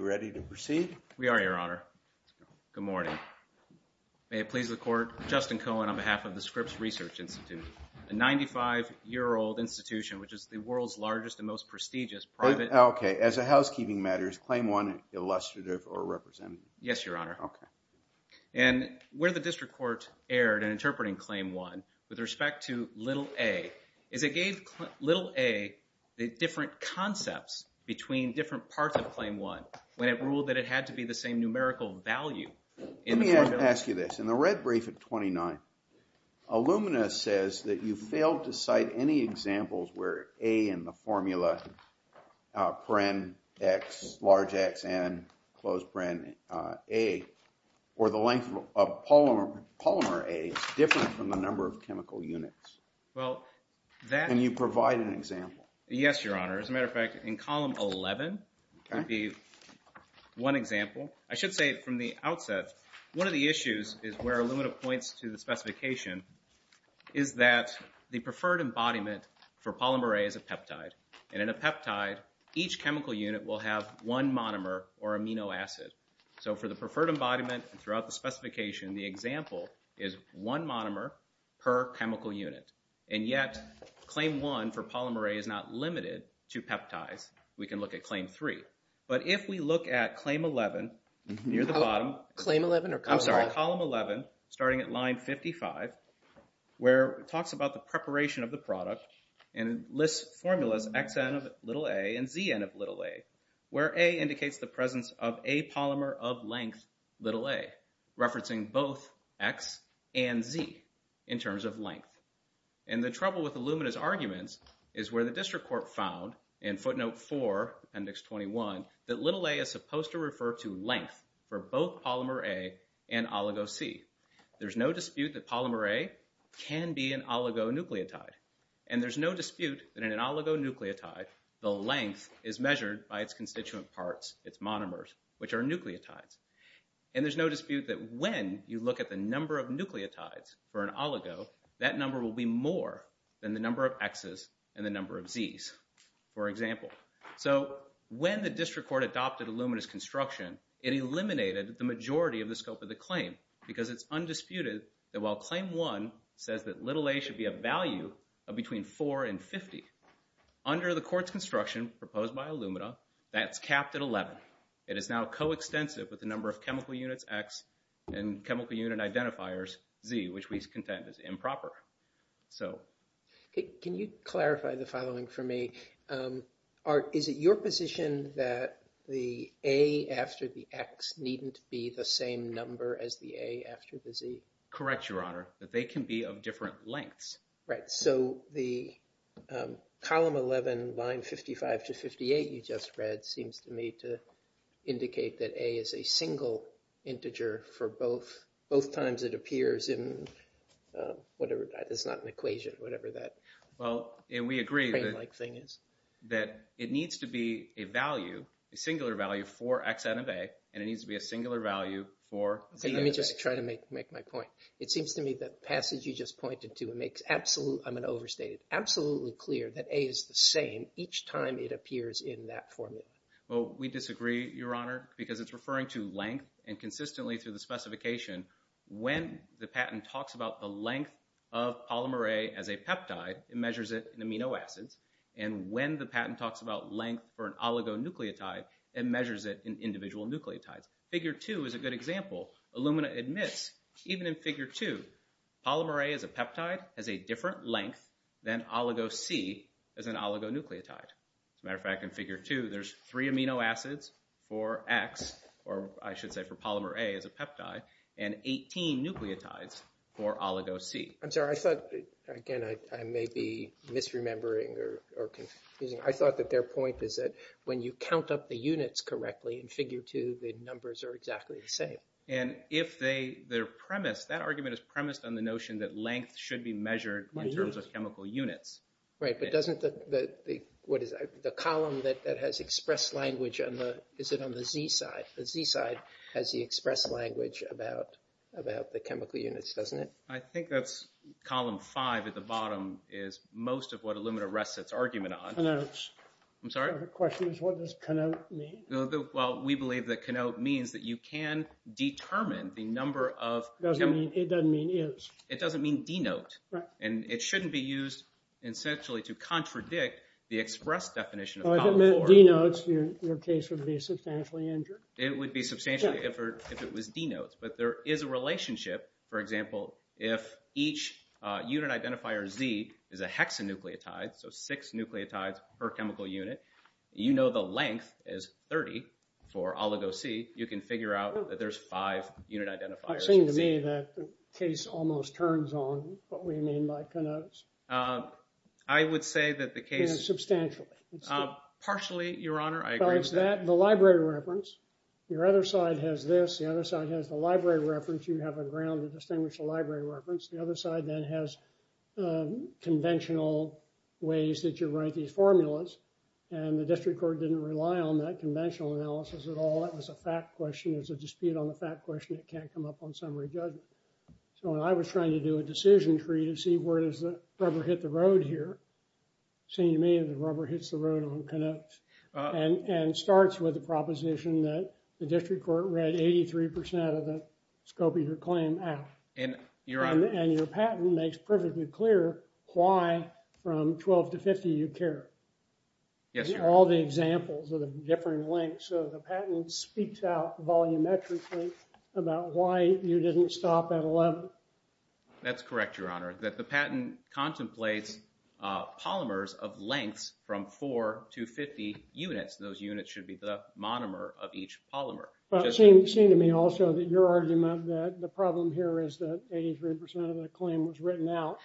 May it please the Court, Justin Cohen on behalf of the Scripps Research Institute, a 95-year-old institution which is the world's largest and most prestigious private… Okay. As a housekeeping matter, is claim one illustrative or representative? Yes, Your Honor. Okay. And where the district court erred in interpreting claim one with respect to little a, is it gave little a the different concepts between different parts of claim one when it ruled that it had to be the same numerical value in the formula. Let me ask you this. In the red brief at 29, Illumina says that you failed to cite any examples where a in the formula paren x, large x, and close paren a, or the length of polymer a is different from the number of chemical units. Well, that… Can you provide an example? Yes, Your Honor. As a matter of fact, in column 11, there'd be one example. I should say from the outset, one of the issues is where Illumina points to the specification is that the preferred embodiment for polymer a is a peptide, and in a peptide, each chemical unit will have one monomer or amino acid. So for the preferred embodiment throughout the specification, the example is one monomer per chemical unit, and yet claim one for polymer a is not limited to peptides. We can look at claim three. But if we look at claim 11 near the bottom… Claim 11 or column 11? I'm sorry. …where it talks about the preparation of the product and lists formulas xn of little a and zn of little a, where a indicates the presence of a polymer of length little a, referencing both x and z in terms of length. And the trouble with Illumina's arguments is where the district court found in footnote 4, appendix 21, that little a is supposed to refer to length for both polymer a and oligo c. There's no dispute that polymer a can be an oligonucleotide, and there's no dispute that in an oligonucleotide, the length is measured by its constituent parts, its monomers, which are nucleotides. And there's no dispute that when you look at the number of nucleotides for an oligo, that number will be more than the number of x's and the number of z's, for example. So when the district court adopted Illumina's construction, it eliminated the majority of the scope of the claim, because it's undisputed that while claim 1 says that little a should be a value of between 4 and 50, under the court's construction proposed by Illumina, that's capped at 11. It is now coextensive with the number of chemical units x and chemical unit identifiers z, which we contend is improper. Can you clarify the following for me? Is it your position that the a after the x needn't be the same number as the a after the z? Correct, Your Honor, that they can be of different lengths. Right, so the column 11, line 55 to 58 you just read seems to me to indicate that a is a single integer for both times it appears in whatever, it's not an equation, whatever that claim-like thing is. That it needs to be a value, a singular value for xn of a, and it needs to be a singular value for zn of a. Okay, let me just try to make my point. It seems to me that the passage you just pointed to, it makes absolutely, I'm going to overstate it, absolutely clear that a is the same each time it appears in that formula. Well, we disagree, Your Honor, because it's referring to length, and consistently through the specification, when the patent talks about the length of polymer a as a peptide, it measures it in amino acids, and when the patent talks about length for an oligonucleotide, it measures it in individual nucleotides. Figure two is a good example, Illumina admits, even in figure two, polymer a as a peptide has a different length than oligo c as an oligonucleotide. As a matter of fact, in figure two, there's three amino acids for x, or I should say for polymer a as a peptide, and 18 nucleotides for oligo c. I'm sorry, I thought, again, I may be misremembering or confusing, I thought that their point is that when you count up the units correctly in figure two, the numbers are exactly the same. And if they, their premise, that argument is premised on the notion that length should be measured in terms of chemical units. Right, but doesn't the, what is it, the column that has expressed language on the, is it on the z side? The z side has the expressed language about the chemical units, doesn't it? I think that's column five at the bottom is most of what Illumina rests its argument on. I'm sorry? The question is, what does connote mean? Well, we believe that connote means that you can determine the number of chemical units. It doesn't mean is. It doesn't mean denote. Right. And it shouldn't be used, essentially, to contradict the expressed definition of column four. Well, if it meant denotes, your case would be substantially injured. It would be substantially if it was denotes. But there is a relationship. For example, if each unit identifier z is a hexanucleotide, so six nucleotides per chemical unit, you know the length is 30 for oligo-C, you can figure out that there's five unit identifiers for z. It seems to me that the case almost turns on what we mean by connotes. I would say that the case... Substantially. Partially, Your Honor. I agree with that. The library reference, your other side has this, the other side has the library reference. You have a ground to distinguish the library reference. The other side then has conventional ways that you write these formulas. And the district court didn't rely on that conventional analysis at all. That was a fact question. It was a dispute on the fact question. It can't come up on summary judgment. So when I was trying to do a decision tree to see where does the rubber hit the road here. It seems to me that the rubber hits the road on connotes. And starts with the proposition that the district court read 83% of the scope of your claim out. And, Your Honor. And your patent makes perfectly clear why from 12 to 50 you care. Yes, Your Honor. These are all the examples of the different lengths. So the patent speaks out volumetrically about why you didn't stop at 11. That's correct, Your Honor. That the patent contemplates polymers of lengths from 4 to 50 units. Those units should be the monomer of each polymer. But it seemed to me also that your argument that the problem here is that 83% of the claim was written out.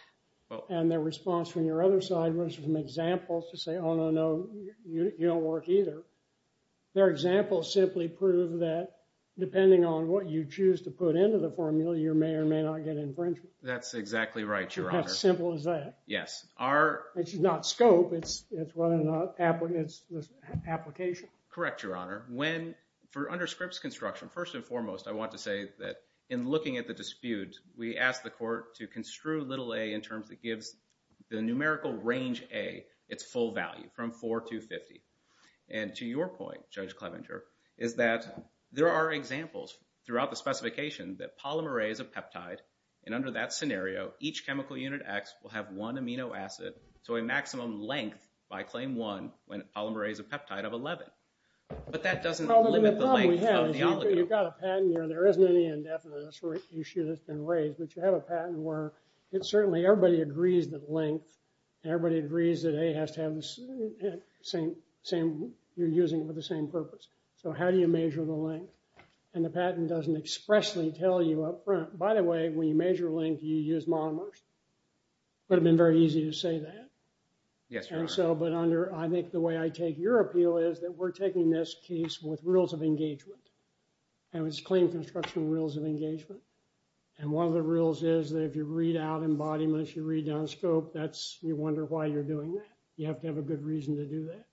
And the response from your other side was from examples to say, oh, no, no. You don't work either. Their examples simply prove that depending on what you choose to put into the formula, you may or may not get infringement. That's exactly right, Your Honor. How simple is that? Yes. It's not scope. It's whether or not it's an application. Correct, Your Honor. When, for under Scripps construction, first and foremost, I want to say that in looking at the dispute, we asked the court to construe little a in terms that gives the numerical range a its full value from 4 to 50. And to your point, Judge Clevenger, is that there are examples throughout the specification that polymer a is a peptide. And under that scenario, each chemical unit X will have one amino acid to a maximum length by claim one when a polymer a is a peptide of 11. But that doesn't limit the length of the oligo. The problem we have is you've got a patent here and there isn't any indefinite issue that's been raised. But you have a patent where it's certainly everybody agrees that length, everybody agrees that a has to have the same, you're using it for the same purpose. So how do you measure the length? And the patent doesn't expressly tell you up front. By the way, when you measure length, you use monomers. It would have been very easy to say that. Yes, Your Honor. And so, but under, I think the way I take your appeal is that we're taking this case with rules of engagement. And it's claim construction rules of engagement. And one of the rules is that if you read out embodiments, you read down scope, that's, you wonder why you're doing that. You have to have a good reason to do that.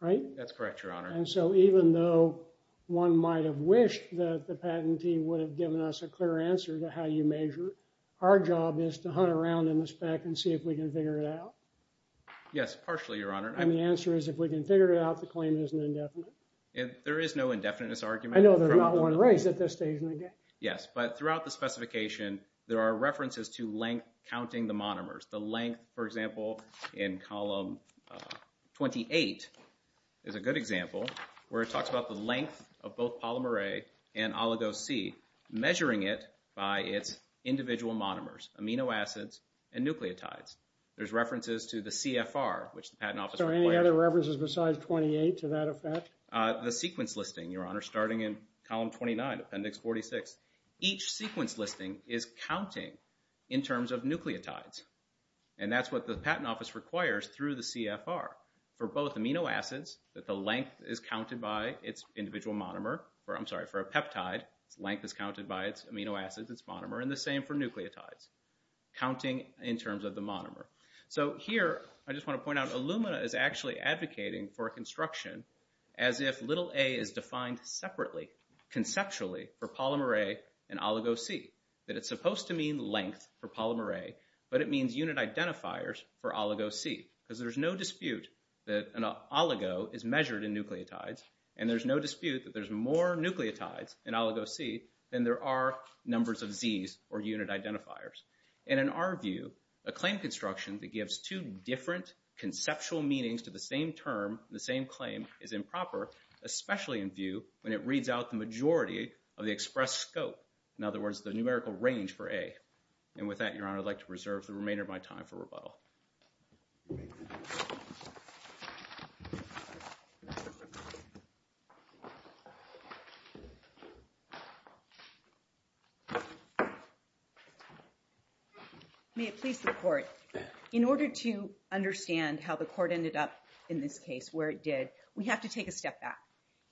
Right? That's correct, Your Honor. And so even though one might have wished that the patent team would have given us a clear answer to how you measure, our job is to hunt around in the spec and see if we can figure it out. Yes, partially, Your Honor. And the answer is if we can figure it out, the claim isn't indefinite. There is no indefiniteness argument. I know, there's not one raised at this stage in the game. Yes, but throughout the specification, there are references to length counting the monomers. The length, for example, in column 28 is a good example where it talks about the length of both polymer A and oligos C, measuring it by its individual monomers, amino acids and nucleotides. There's references to the CFR, which the Patent Office requires. So any other references besides 28 to that effect? The sequence listing, Your Honor, starting in column 29, appendix 46. Each sequence listing is counting in terms of nucleotides. And that's what the Patent Office requires through the CFR for both amino acids, that the length is counted by its individual monomer, or I'm sorry, for a peptide, its length is counted by its amino acids, its monomer, and the same for nucleotides, counting in terms of the monomer. So here, I just want to point out, Illumina is actually advocating for construction as if little a is defined separately, conceptually, for polymer A and oligo C, that it's supposed to mean length for polymer A, but it means unit identifiers for oligo C, because there's no dispute that an oligo is measured in nucleotides, and there's no dispute that there's more nucleotides in oligo C than there are numbers of Zs, or unit identifiers. And in our view, a claim construction that gives two different conceptual meanings to the same term, the same claim, is improper, especially in view when it reads out the majority of the expressed scope, in other words, the numerical range for A. And with that, Your My Time for rebuttal. May it please the court. In order to understand how the court ended up in this case where it did, we have to take a step back,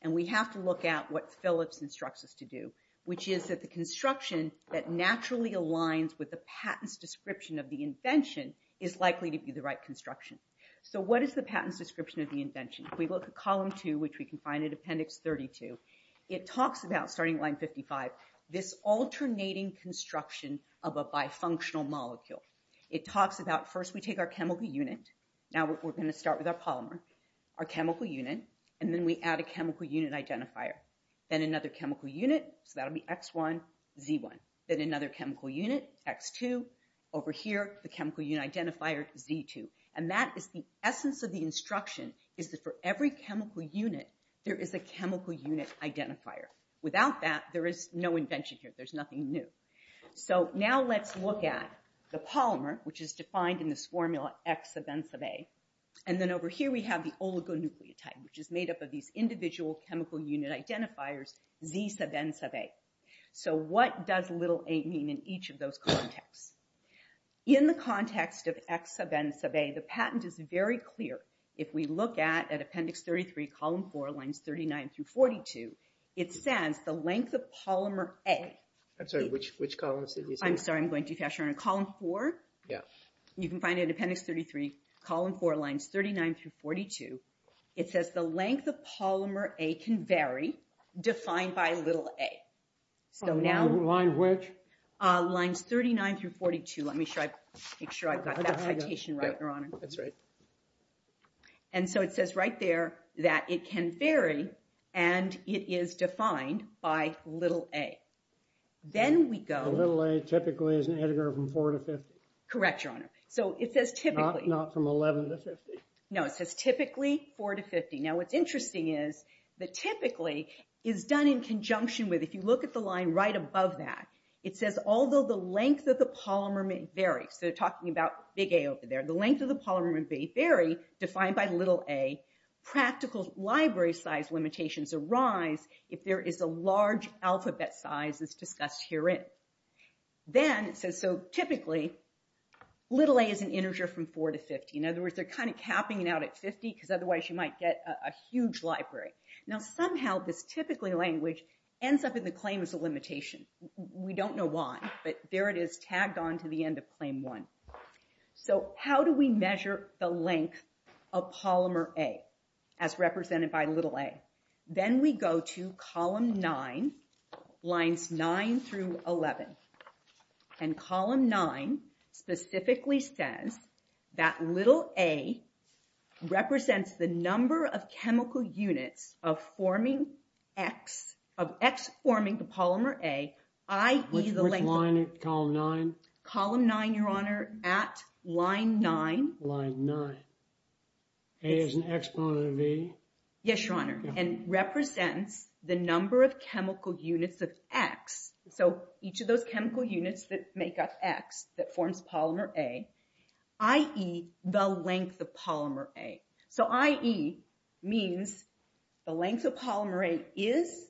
and we have to look at what Phillips instructs us to do, which is that the construction that naturally aligns with the patent's description of the invention is likely to be the right construction. So what is the patent's description of the invention? We look at column two, which we can find in appendix 32. It talks about, starting line 55, this alternating construction of a bifunctional molecule. It talks about, first we take our chemical unit, now we're going to start with our polymer, our chemical unit, and then we add a chemical unit identifier, then another chemical unit, so that'll be X1, Z1, then another chemical unit, X2, over here, the chemical unit identifier, Z2. And that is the essence of the instruction, is that for every chemical unit, there is a chemical unit identifier. Without that, there is no invention here. There's nothing new. So now let's look at the polymer, which is defined in this formula, X sub N sub A, and then over here we have the oligonucleotide, which is made up of these individual chemical unit identifiers, Z sub N sub A. So what does little a mean in each of those contexts? In the context of X sub N sub A, the patent is very clear. If we look at appendix 33, column four, lines 39 through 42, it says the length of polymer A. I'm sorry, which column is it? I'm sorry, I'm going to do faster. Column four? Yeah. You can find it in appendix 33, column four, lines 39 through 42. It says the length of polymer A can vary, defined by little a. So now... Lines which? Lines 39 through 42. Let me make sure I've got that citation right, Your Honor. That's right. And so it says right there that it can vary, and it is defined by little a. Then we go... Little a typically is an integer from four to 50. Correct, Your Honor. So it says typically... Not from 11 to 50. No, it says typically four to 50. Now what's interesting is that typically is done in conjunction with, if you look at the line right above that, it says although the length of the polymer may vary, so talking about big A over there, the length of the polymer may vary, defined by little a. Practical library size limitations arise if there is a large alphabet size as discussed herein. Then it says, so typically, little a is an integer from four to 50. In other words, they're kind of capping it out at 50, because otherwise you might get a huge library. Now somehow this typically language ends up in the claim as a limitation. We don't know why, but there it is, tagged on to the end of claim one. So how do we measure the length of polymer A, as represented by little a? Then we go to column nine, lines nine through 11. And column nine specifically says that little a represents the number of chemical units of forming X, of X forming the polymer A, i.e. the length... Which line, column nine? Column nine, your honor, at line nine. Line nine. A is an exponent of E? Yes, your honor, and represents the number of chemical units of X, so each of those chemical units that make up X that forms polymer A, i.e. the length of polymer A. So i.e. means the length of polymer A is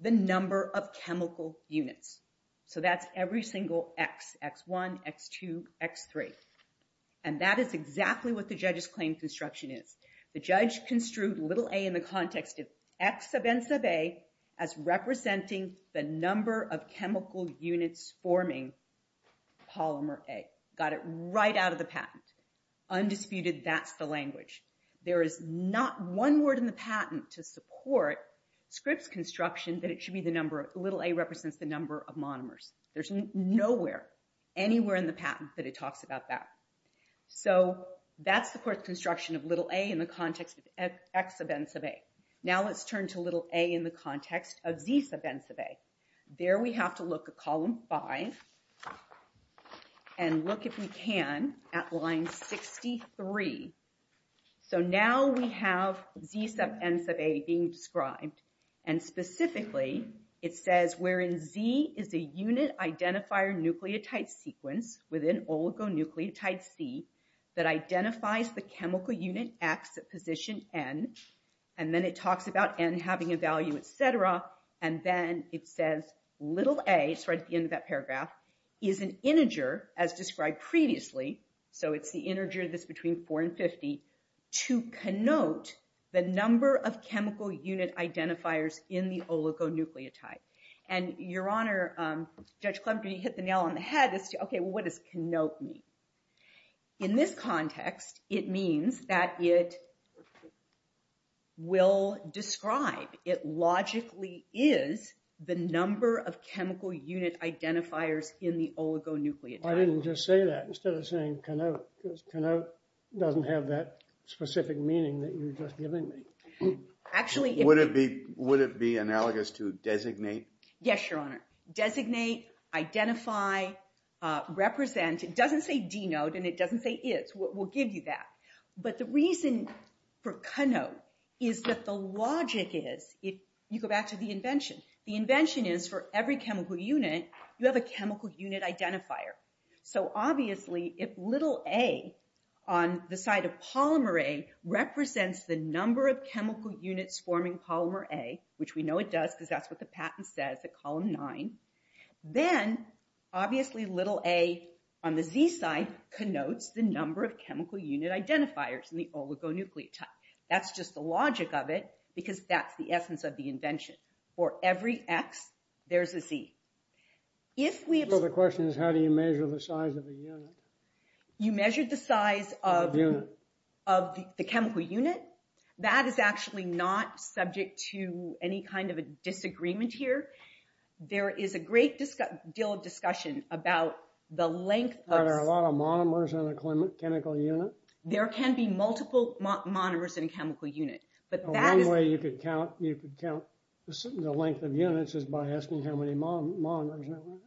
the number of chemical units. So that's every single X, X1, X2, X3. And that is exactly what the judge's claim construction is. The judge construed little a in the context of X sub N sub A as representing the number of chemical units forming polymer A. Got it right out of the patent. Undisputed, that's the language. There is not one word in the patent to support Scripps' construction that it should be the number of... Little a represents the number of monomers. There's nowhere, anywhere in the patent that it talks about that. So that's the court's construction of little a in the context of X sub N sub A. Now let's turn to little a in the context of Z sub N sub A. There we have to look at column five. And look if we can at line 63. So now we have Z sub N sub A being described. And specifically it says wherein Z is a unit identifier nucleotide sequence within oligonucleotide C that identifies the chemical unit X at position N. And then it talks about N having a value, et cetera. And then it says little a, it's right at the end of that paragraph, is an integer as described previously. So it's the integer that's between four and 50, to connote the number of chemical unit identifiers in the oligonucleotide. And your honor, Judge Clement, when you hit the nail on the head, it's, okay, well what does connote mean? In this context, it means that it will describe, it logically is the number of chemical unit identifiers in the oligonucleotide. I didn't just say that, instead of saying connote, because connote doesn't have that specific meaning that you were just giving me. Actually, it would be. Would it be analogous to designate? Yes, your honor. Designate, identify, represent, it doesn't say denote and it doesn't say is. We'll give you that. But the reason for connote is that the logic is, if you go back to the invention, the invention is for every chemical unit, you have a chemical unit identifier. So obviously, if little a on the side of polymer A represents the number of chemical units forming polymer A, which we know it does because that's what the patent says at column 9, then obviously little a on the z side connotes the number of chemical unit identifiers in the oligonucleotide. That's just the logic of it because that's the essence of the invention. For every x, there's a z. If we have... So the question is, how do you measure the size of the unit? You measured the size of the chemical unit? That is actually not subject to any kind of a disagreement here. There is a great deal of discussion about the length of... Are there a lot of monomers in a chemical unit? There can be multiple monomers in a chemical unit. But that is... One way you could count the length of units is by asking how many monomers there are.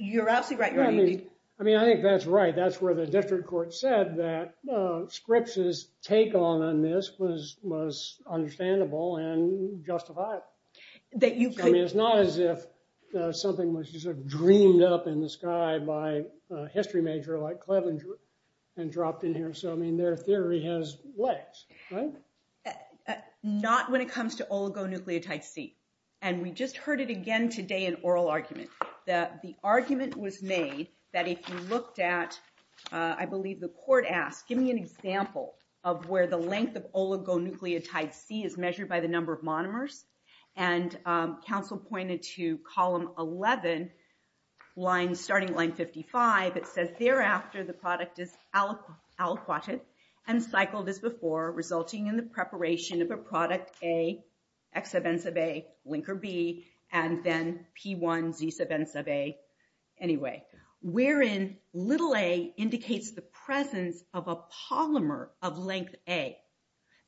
You're absolutely right. I mean, I think that's right. That's where the district court said that Scripps' take on this was understandable and justified. I mean, it's not as if something was just dreamed up in the sky by a history major like Cleveland and dropped in here. So, I mean, their theory has legs, right? Not when it comes to oligonucleotide C. And we just heard it again today in oral argument. The argument was made that if you looked at, I believe, the court asked, give me an example of where the length of oligonucleotide C is measured by the number of monomers. And counsel pointed to column 11, starting line 55, it says, thereafter, the product is aliquoted and cycled as before, resulting in the preparation of a product A, X sub N sub A, linker B, and then P1, Z sub N sub A, anyway, wherein little a indicates the presence of a polymer of length A.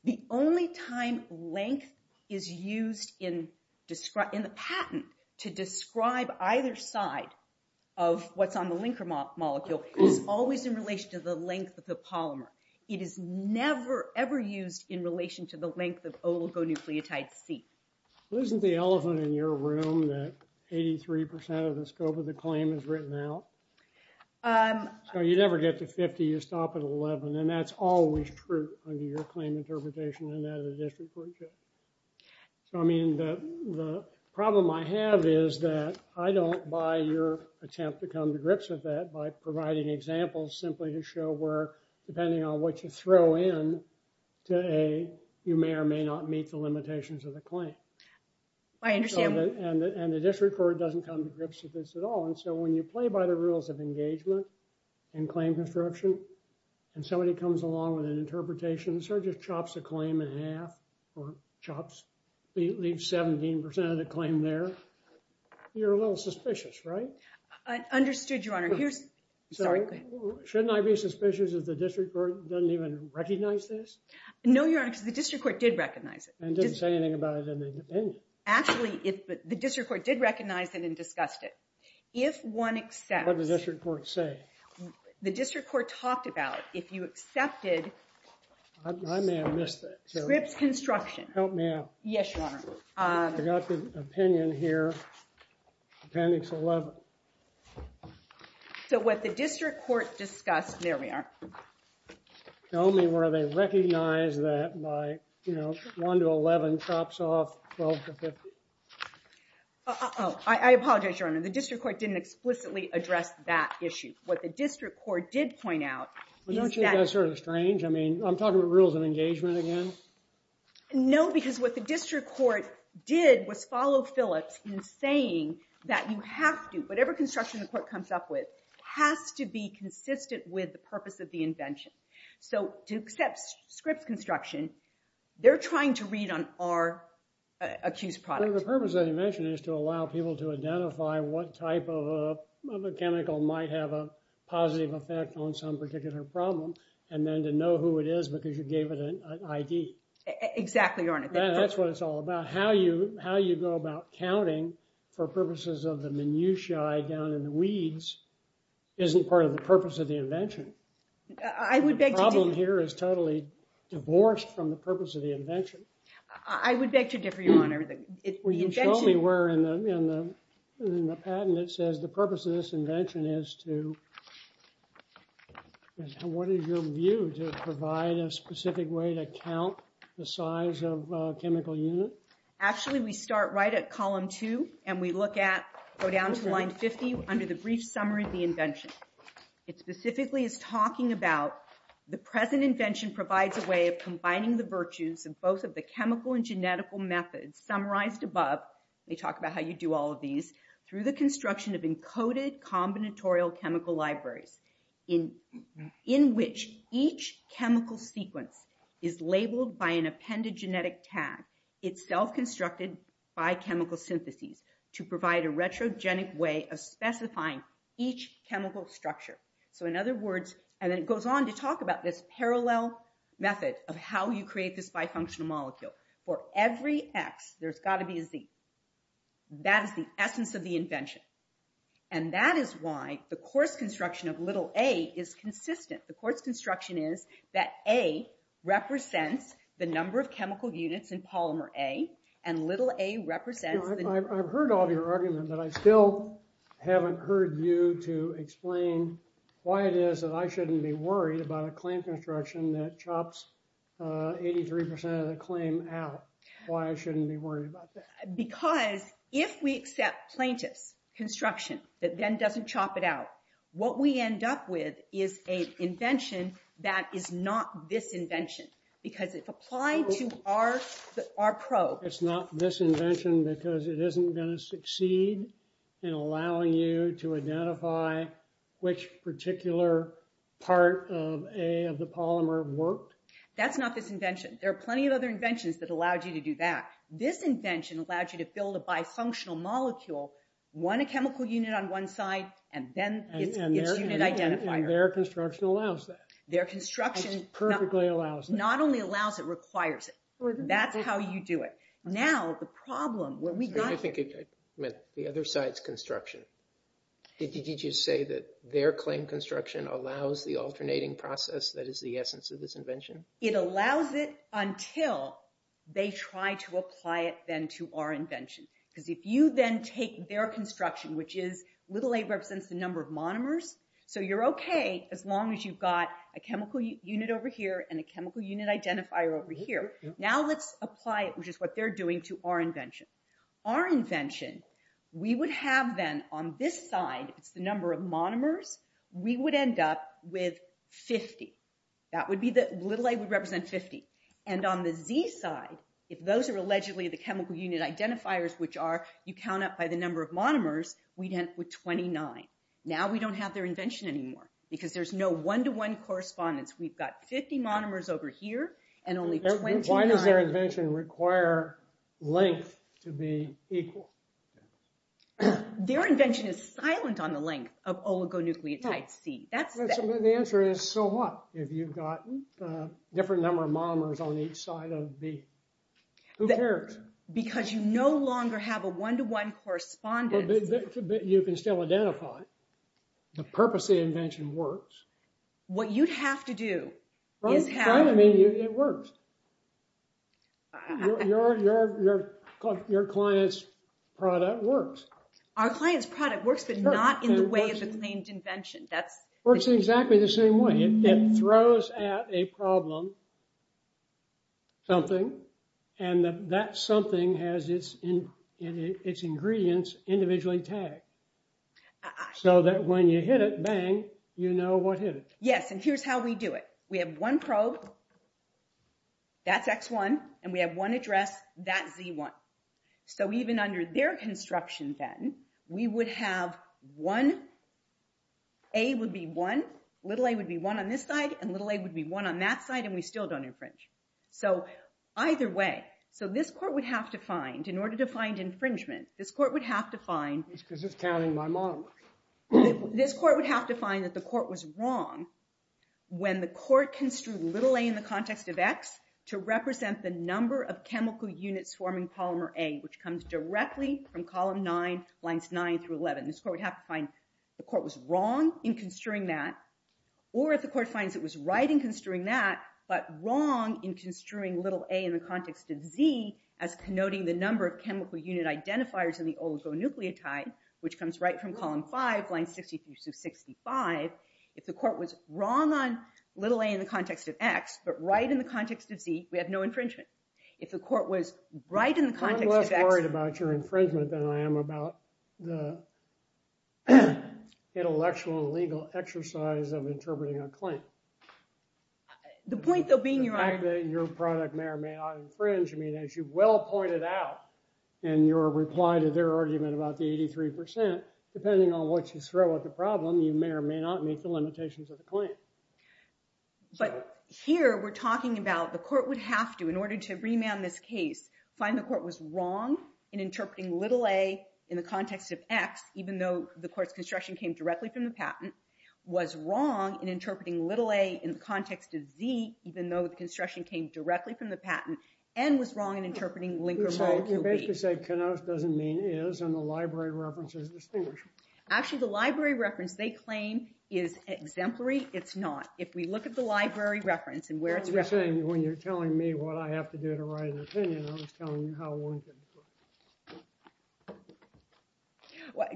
The only time length is used in the patent to describe either side of what's on the linker molecule is always in relation to the length of the polymer. It is never, ever used in relation to the length of oligonucleotide C. Well, isn't the elephant in your room that 83% of the scope of the claim is written out? So, you never get to 50, you stop at 11. And that's always true under your claim interpretation and that of the district courtship. So, I mean, the problem I have is that I don't buy your attempt to come to grips with that by providing examples simply to show where, depending on what you throw in to A, you may or may not meet the limitations of the claim. I understand. And the district court doesn't come to grips with this at all. And so, when you play by the rules of engagement and claim construction, and somebody comes along with an interpretation and sort of just chops a claim in half or chops, leaves 17% of the claim there, you're a little suspicious, right? I understood, Your Honor. Sorry, go ahead. Shouldn't I be suspicious if the district court doesn't even recognize this? No, Your Honor, because the district court did recognize it. And didn't say anything about it in the opinion. Actually, the district court did recognize it and discussed it. If one accepts- What did the district court say? The district court talked about, if you accepted- I may have missed that. Scripps construction. Help me out. Yes, Your Honor. I got the opinion here, appendix 11. So, what the district court discussed, there we are. Tell me where they recognize that by, you know, 1 to 11 chops off 12 to 15. Uh-oh. I apologize, Your Honor. The district court didn't explicitly address that issue. What the district court did point out is that- Well, don't you think that's sort of strange? I mean, I'm talking about rules of engagement again. No, because what the district court did was follow Phillips in saying that you have to, whatever construction the court comes up with, has to be consistent with the purpose of the invention. So, to accept Scripps construction, they're trying to read on our accused product. Well, the purpose of the invention is to allow people to identify what type of a chemical might have a positive effect on some particular problem. And then to know who it is because you gave it an ID. Exactly, Your Honor. That's what it's all about. How you go about counting for purposes of the minutiae down in the weeds isn't part of the purpose of the invention. I would beg to differ. The problem here is totally divorced from the purpose of the invention. I would beg to differ, Your Honor. Will you show me where in the patent it says the purpose of this invention is to- Actually, we start right at column two and we look at, go down to line 50 under the brief summary of the invention. It specifically is talking about the present invention provides a way of combining the virtues of both of the chemical and genetical methods summarized above. They talk about how you do all of these. Through the construction of encoded combinatorial chemical libraries in which each chemical sequence is labeled by an appended genetic tag. It's self-constructed by chemical syntheses to provide a retrogenic way of specifying each chemical structure. So in other words, and then it goes on to talk about this parallel method of how you create this bifunctional molecule. For every X, there's got to be a Z. That is the essence of the invention. And that is why the course construction of little a is consistent. The course construction is that a represents the number of chemical units in polymer A, and little a represents- I've heard all of your argument, but I still haven't heard you to explain why it is that I shouldn't be worried about a claim construction that chops 83% of the claim out. Why I shouldn't be worried about that? Because if we accept plaintiff's construction that then doesn't chop it out, what we end up with is an invention that is not this invention. Because if applied to our probe- It's not this invention because it isn't going to succeed in allowing you to identify which particular part of A of the polymer worked. That's not this invention. There are plenty of other inventions that allowed you to do that. This invention allowed you to build a bifunctional molecule, one chemical unit on one side, and then its unit identifier. And their construction allows that. Their construction- Perfectly allows it. Not only allows it, requires it. That's how you do it. Now, the problem when we got here- I think I meant the other side's construction. Did you say that their claim construction allows the alternating process that is the essence of this invention? It allows it until they try to apply it then to our invention. Because if you then take their construction, which is little a represents the number of monomers, so you're okay as long as you've got a chemical unit over here and a chemical unit identifier over here. Now let's apply it, which is what they're doing, to our invention. Our invention, we would have then on this side, it's the number of monomers, we would end up with 50. That would be the- little a would represent 50. And on the z side, if those are allegedly the chemical unit identifiers, which are you count up by the number of monomers, we'd end up with 29. Now we don't have their invention anymore because there's no one-to-one correspondence. We've got 50 monomers over here and only 29- Why does their invention require length to be equal? Their invention is silent on the length of oligonucleotide C. The answer is so what if you've got a different number of monomers on each side of the- who cares? Because you no longer have a one-to-one correspondence. But you can still identify it. The purpose of the invention works. What you'd have to do is have- I mean, it works. Your client's product works. Our client's product works, but not in the way of the claimed invention. Works exactly the same way. It throws at a problem something and that something has its ingredients individually tagged so that when you hit it, bang, you know what hit it. Yes, and here's how we do it. We have one probe. That's X1, and we have one address. That's Z1. So even under their construction then, we would have one- A would be one. Little a would be one on this side, and little a would be one on that side, and we still don't infringe. So either way. So this court would have to find, in order to find infringement, this court would have to find- Because it's counting my monomers. This court would have to find that the court was wrong when the court construed little a in the context of X to represent the number of chemical units forming polymer A, which comes directly from column 9, lines 9 through 11. This court would have to find the court was wrong in construing that or if the court finds it was right in construing that but wrong in construing little a in the context of Z as connoting the number of chemical unit identifiers in the oligonucleotide, which comes right from column 5, lines 63 through 65. If the court was wrong on little a in the context of X but right in the context of Z, we have no infringement. If the court was right in the context of X- I'm less worried about your infringement than I am about the intellectual and legal exercise of interpreting a claim. The point, though, being your argument- The fact that your product may or may not infringe, I mean, as you well pointed out in your reply to their argument about the 83%, depending on what you throw at the problem, you may or may not meet the limitations of the claim. But here we're talking about the court would have to, in order to remand this case, find the court was wrong in interpreting little a in the context of X, even though the court's construction came directly from the patent, was wrong in interpreting little a in the context of Z, even though the construction came directly from the patent, and was wrong in interpreting linker molecule B. So you're basically saying Kenos doesn't mean is and the library reference is distinguished. Actually, the library reference they claim is exemplary. It's not. If we look at the library reference and where it's referenced- I was just saying, when you're telling me what I have to do to write an opinion, I was telling you how one could-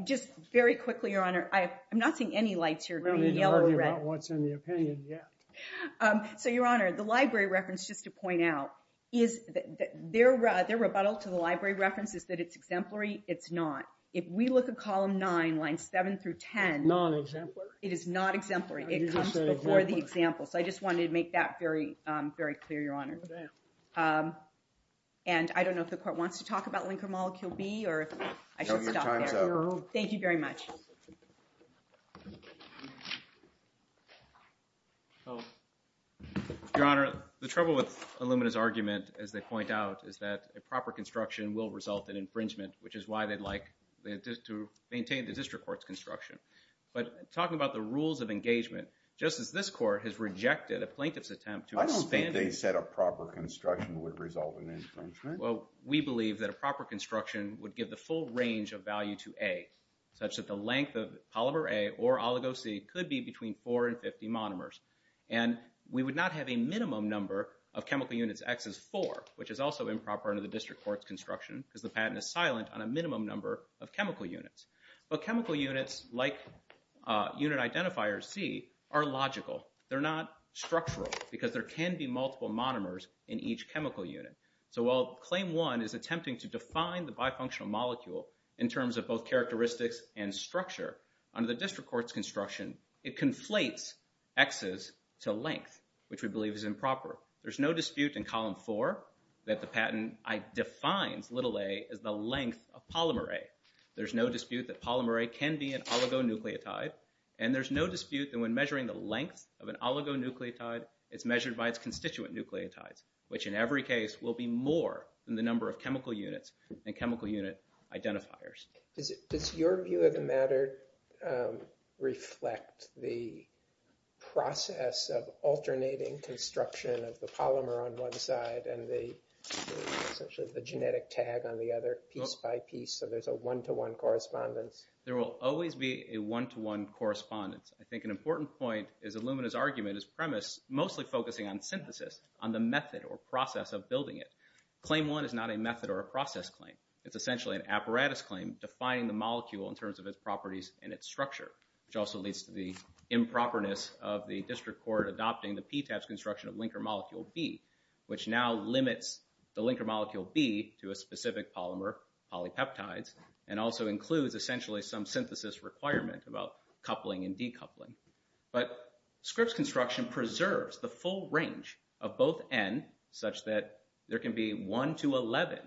Just very quickly, Your Honor, I'm not seeing any lights here. We don't need to argue about what's in the opinion yet. So, Your Honor, the library reference, just to point out, their rebuttal to the library reference is that it's exemplary. It's not. If we look at column 9, lines 7 through 10- It's non-exemplary. It is not exemplary. It comes before the example. So I just wanted to make that very clear, Your Honor. And I don't know if the court wants to talk about linker molecule B or if I should stop there. Thank you very much. Thank you. Your Honor, the trouble with Illumina's argument, as they point out, is that a proper construction will result in infringement, which is why they'd like to maintain the district court's construction. But talking about the rules of engagement, just as this court has rejected a plaintiff's attempt to expand- I don't think they said a proper construction would result in infringement. Well, we believe that a proper construction would give the full range of value to A, such that the length of polymer A or oligo C could be between 4 and 50 monomers. And we would not have a minimum number of chemical units. X is 4, which is also improper under the district court's construction because the patent is silent on a minimum number of chemical units. But chemical units, like unit identifier C, are logical. They're not structural because there can be multiple monomers in each chemical unit. So while Claim 1 is attempting to define the bifunctional molecule in terms of both characteristics and structure, under the district court's construction, it conflates X's to length, which we believe is improper. There's no dispute in Column 4 that the patent defines little a as the length of polymer A. There's no dispute that polymer A can be an oligonucleotide. And there's no dispute that when measuring the length of an oligonucleotide, it's measured by its constituent nucleotides, which in every case will be more than the number of chemical units and chemical unit identifiers. Does your view of the matter reflect the process of alternating construction of the polymer on one side and essentially the genetic tag on the other piece by piece so there's a one-to-one correspondence? There will always be a one-to-one correspondence. I think an important point is Illumina's argument, its premise, mostly focusing on synthesis, on the method or process of building it. Claim 1 is not a method or a process claim. It's essentially an apparatus claim, defining the molecule in terms of its properties and its structure, which also leads to the improperness of the district court adopting the PTAS construction of linker molecule B, which now limits the linker molecule B to a specific polymer, polypeptides, and also includes essentially some synthesis requirement about coupling and decoupling. But Scripps construction preserves the full range of both N, such that there can be 1 to 11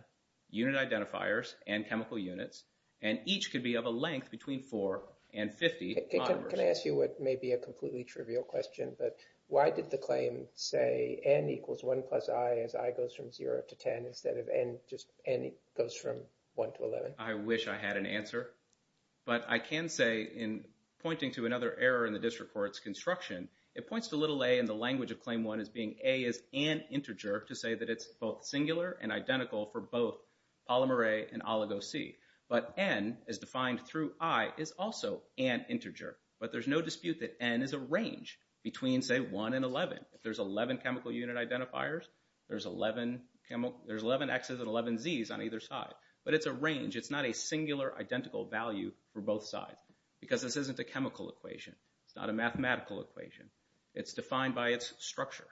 unit identifiers and chemical units, and each could be of a length between 4 and 50 polymers. Can I ask you what may be a completely trivial question? Why did the claim say N equals 1 plus I as I goes from 0 to 10 instead of N goes from 1 to 11? I wish I had an answer, but I can say, in pointing to another error in the district court's construction, it points to little a in the language of Claim 1 as being a as an integer to say that it's both singular and identical for both polymer A and oligo C. But N, as defined through I, is also an integer. But there's no dispute that N is a range between, say, 1 and 11. If there's 11 chemical unit identifiers, there's 11 Xs and 11 Zs on either side. But it's a range. It's not a singular identical value for both sides because this isn't a chemical equation. It's not a mathematical equation. It's defined by its structure.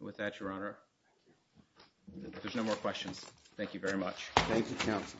With that, Your Honor, if there's no more questions, thank you very much. Thank you, counsel.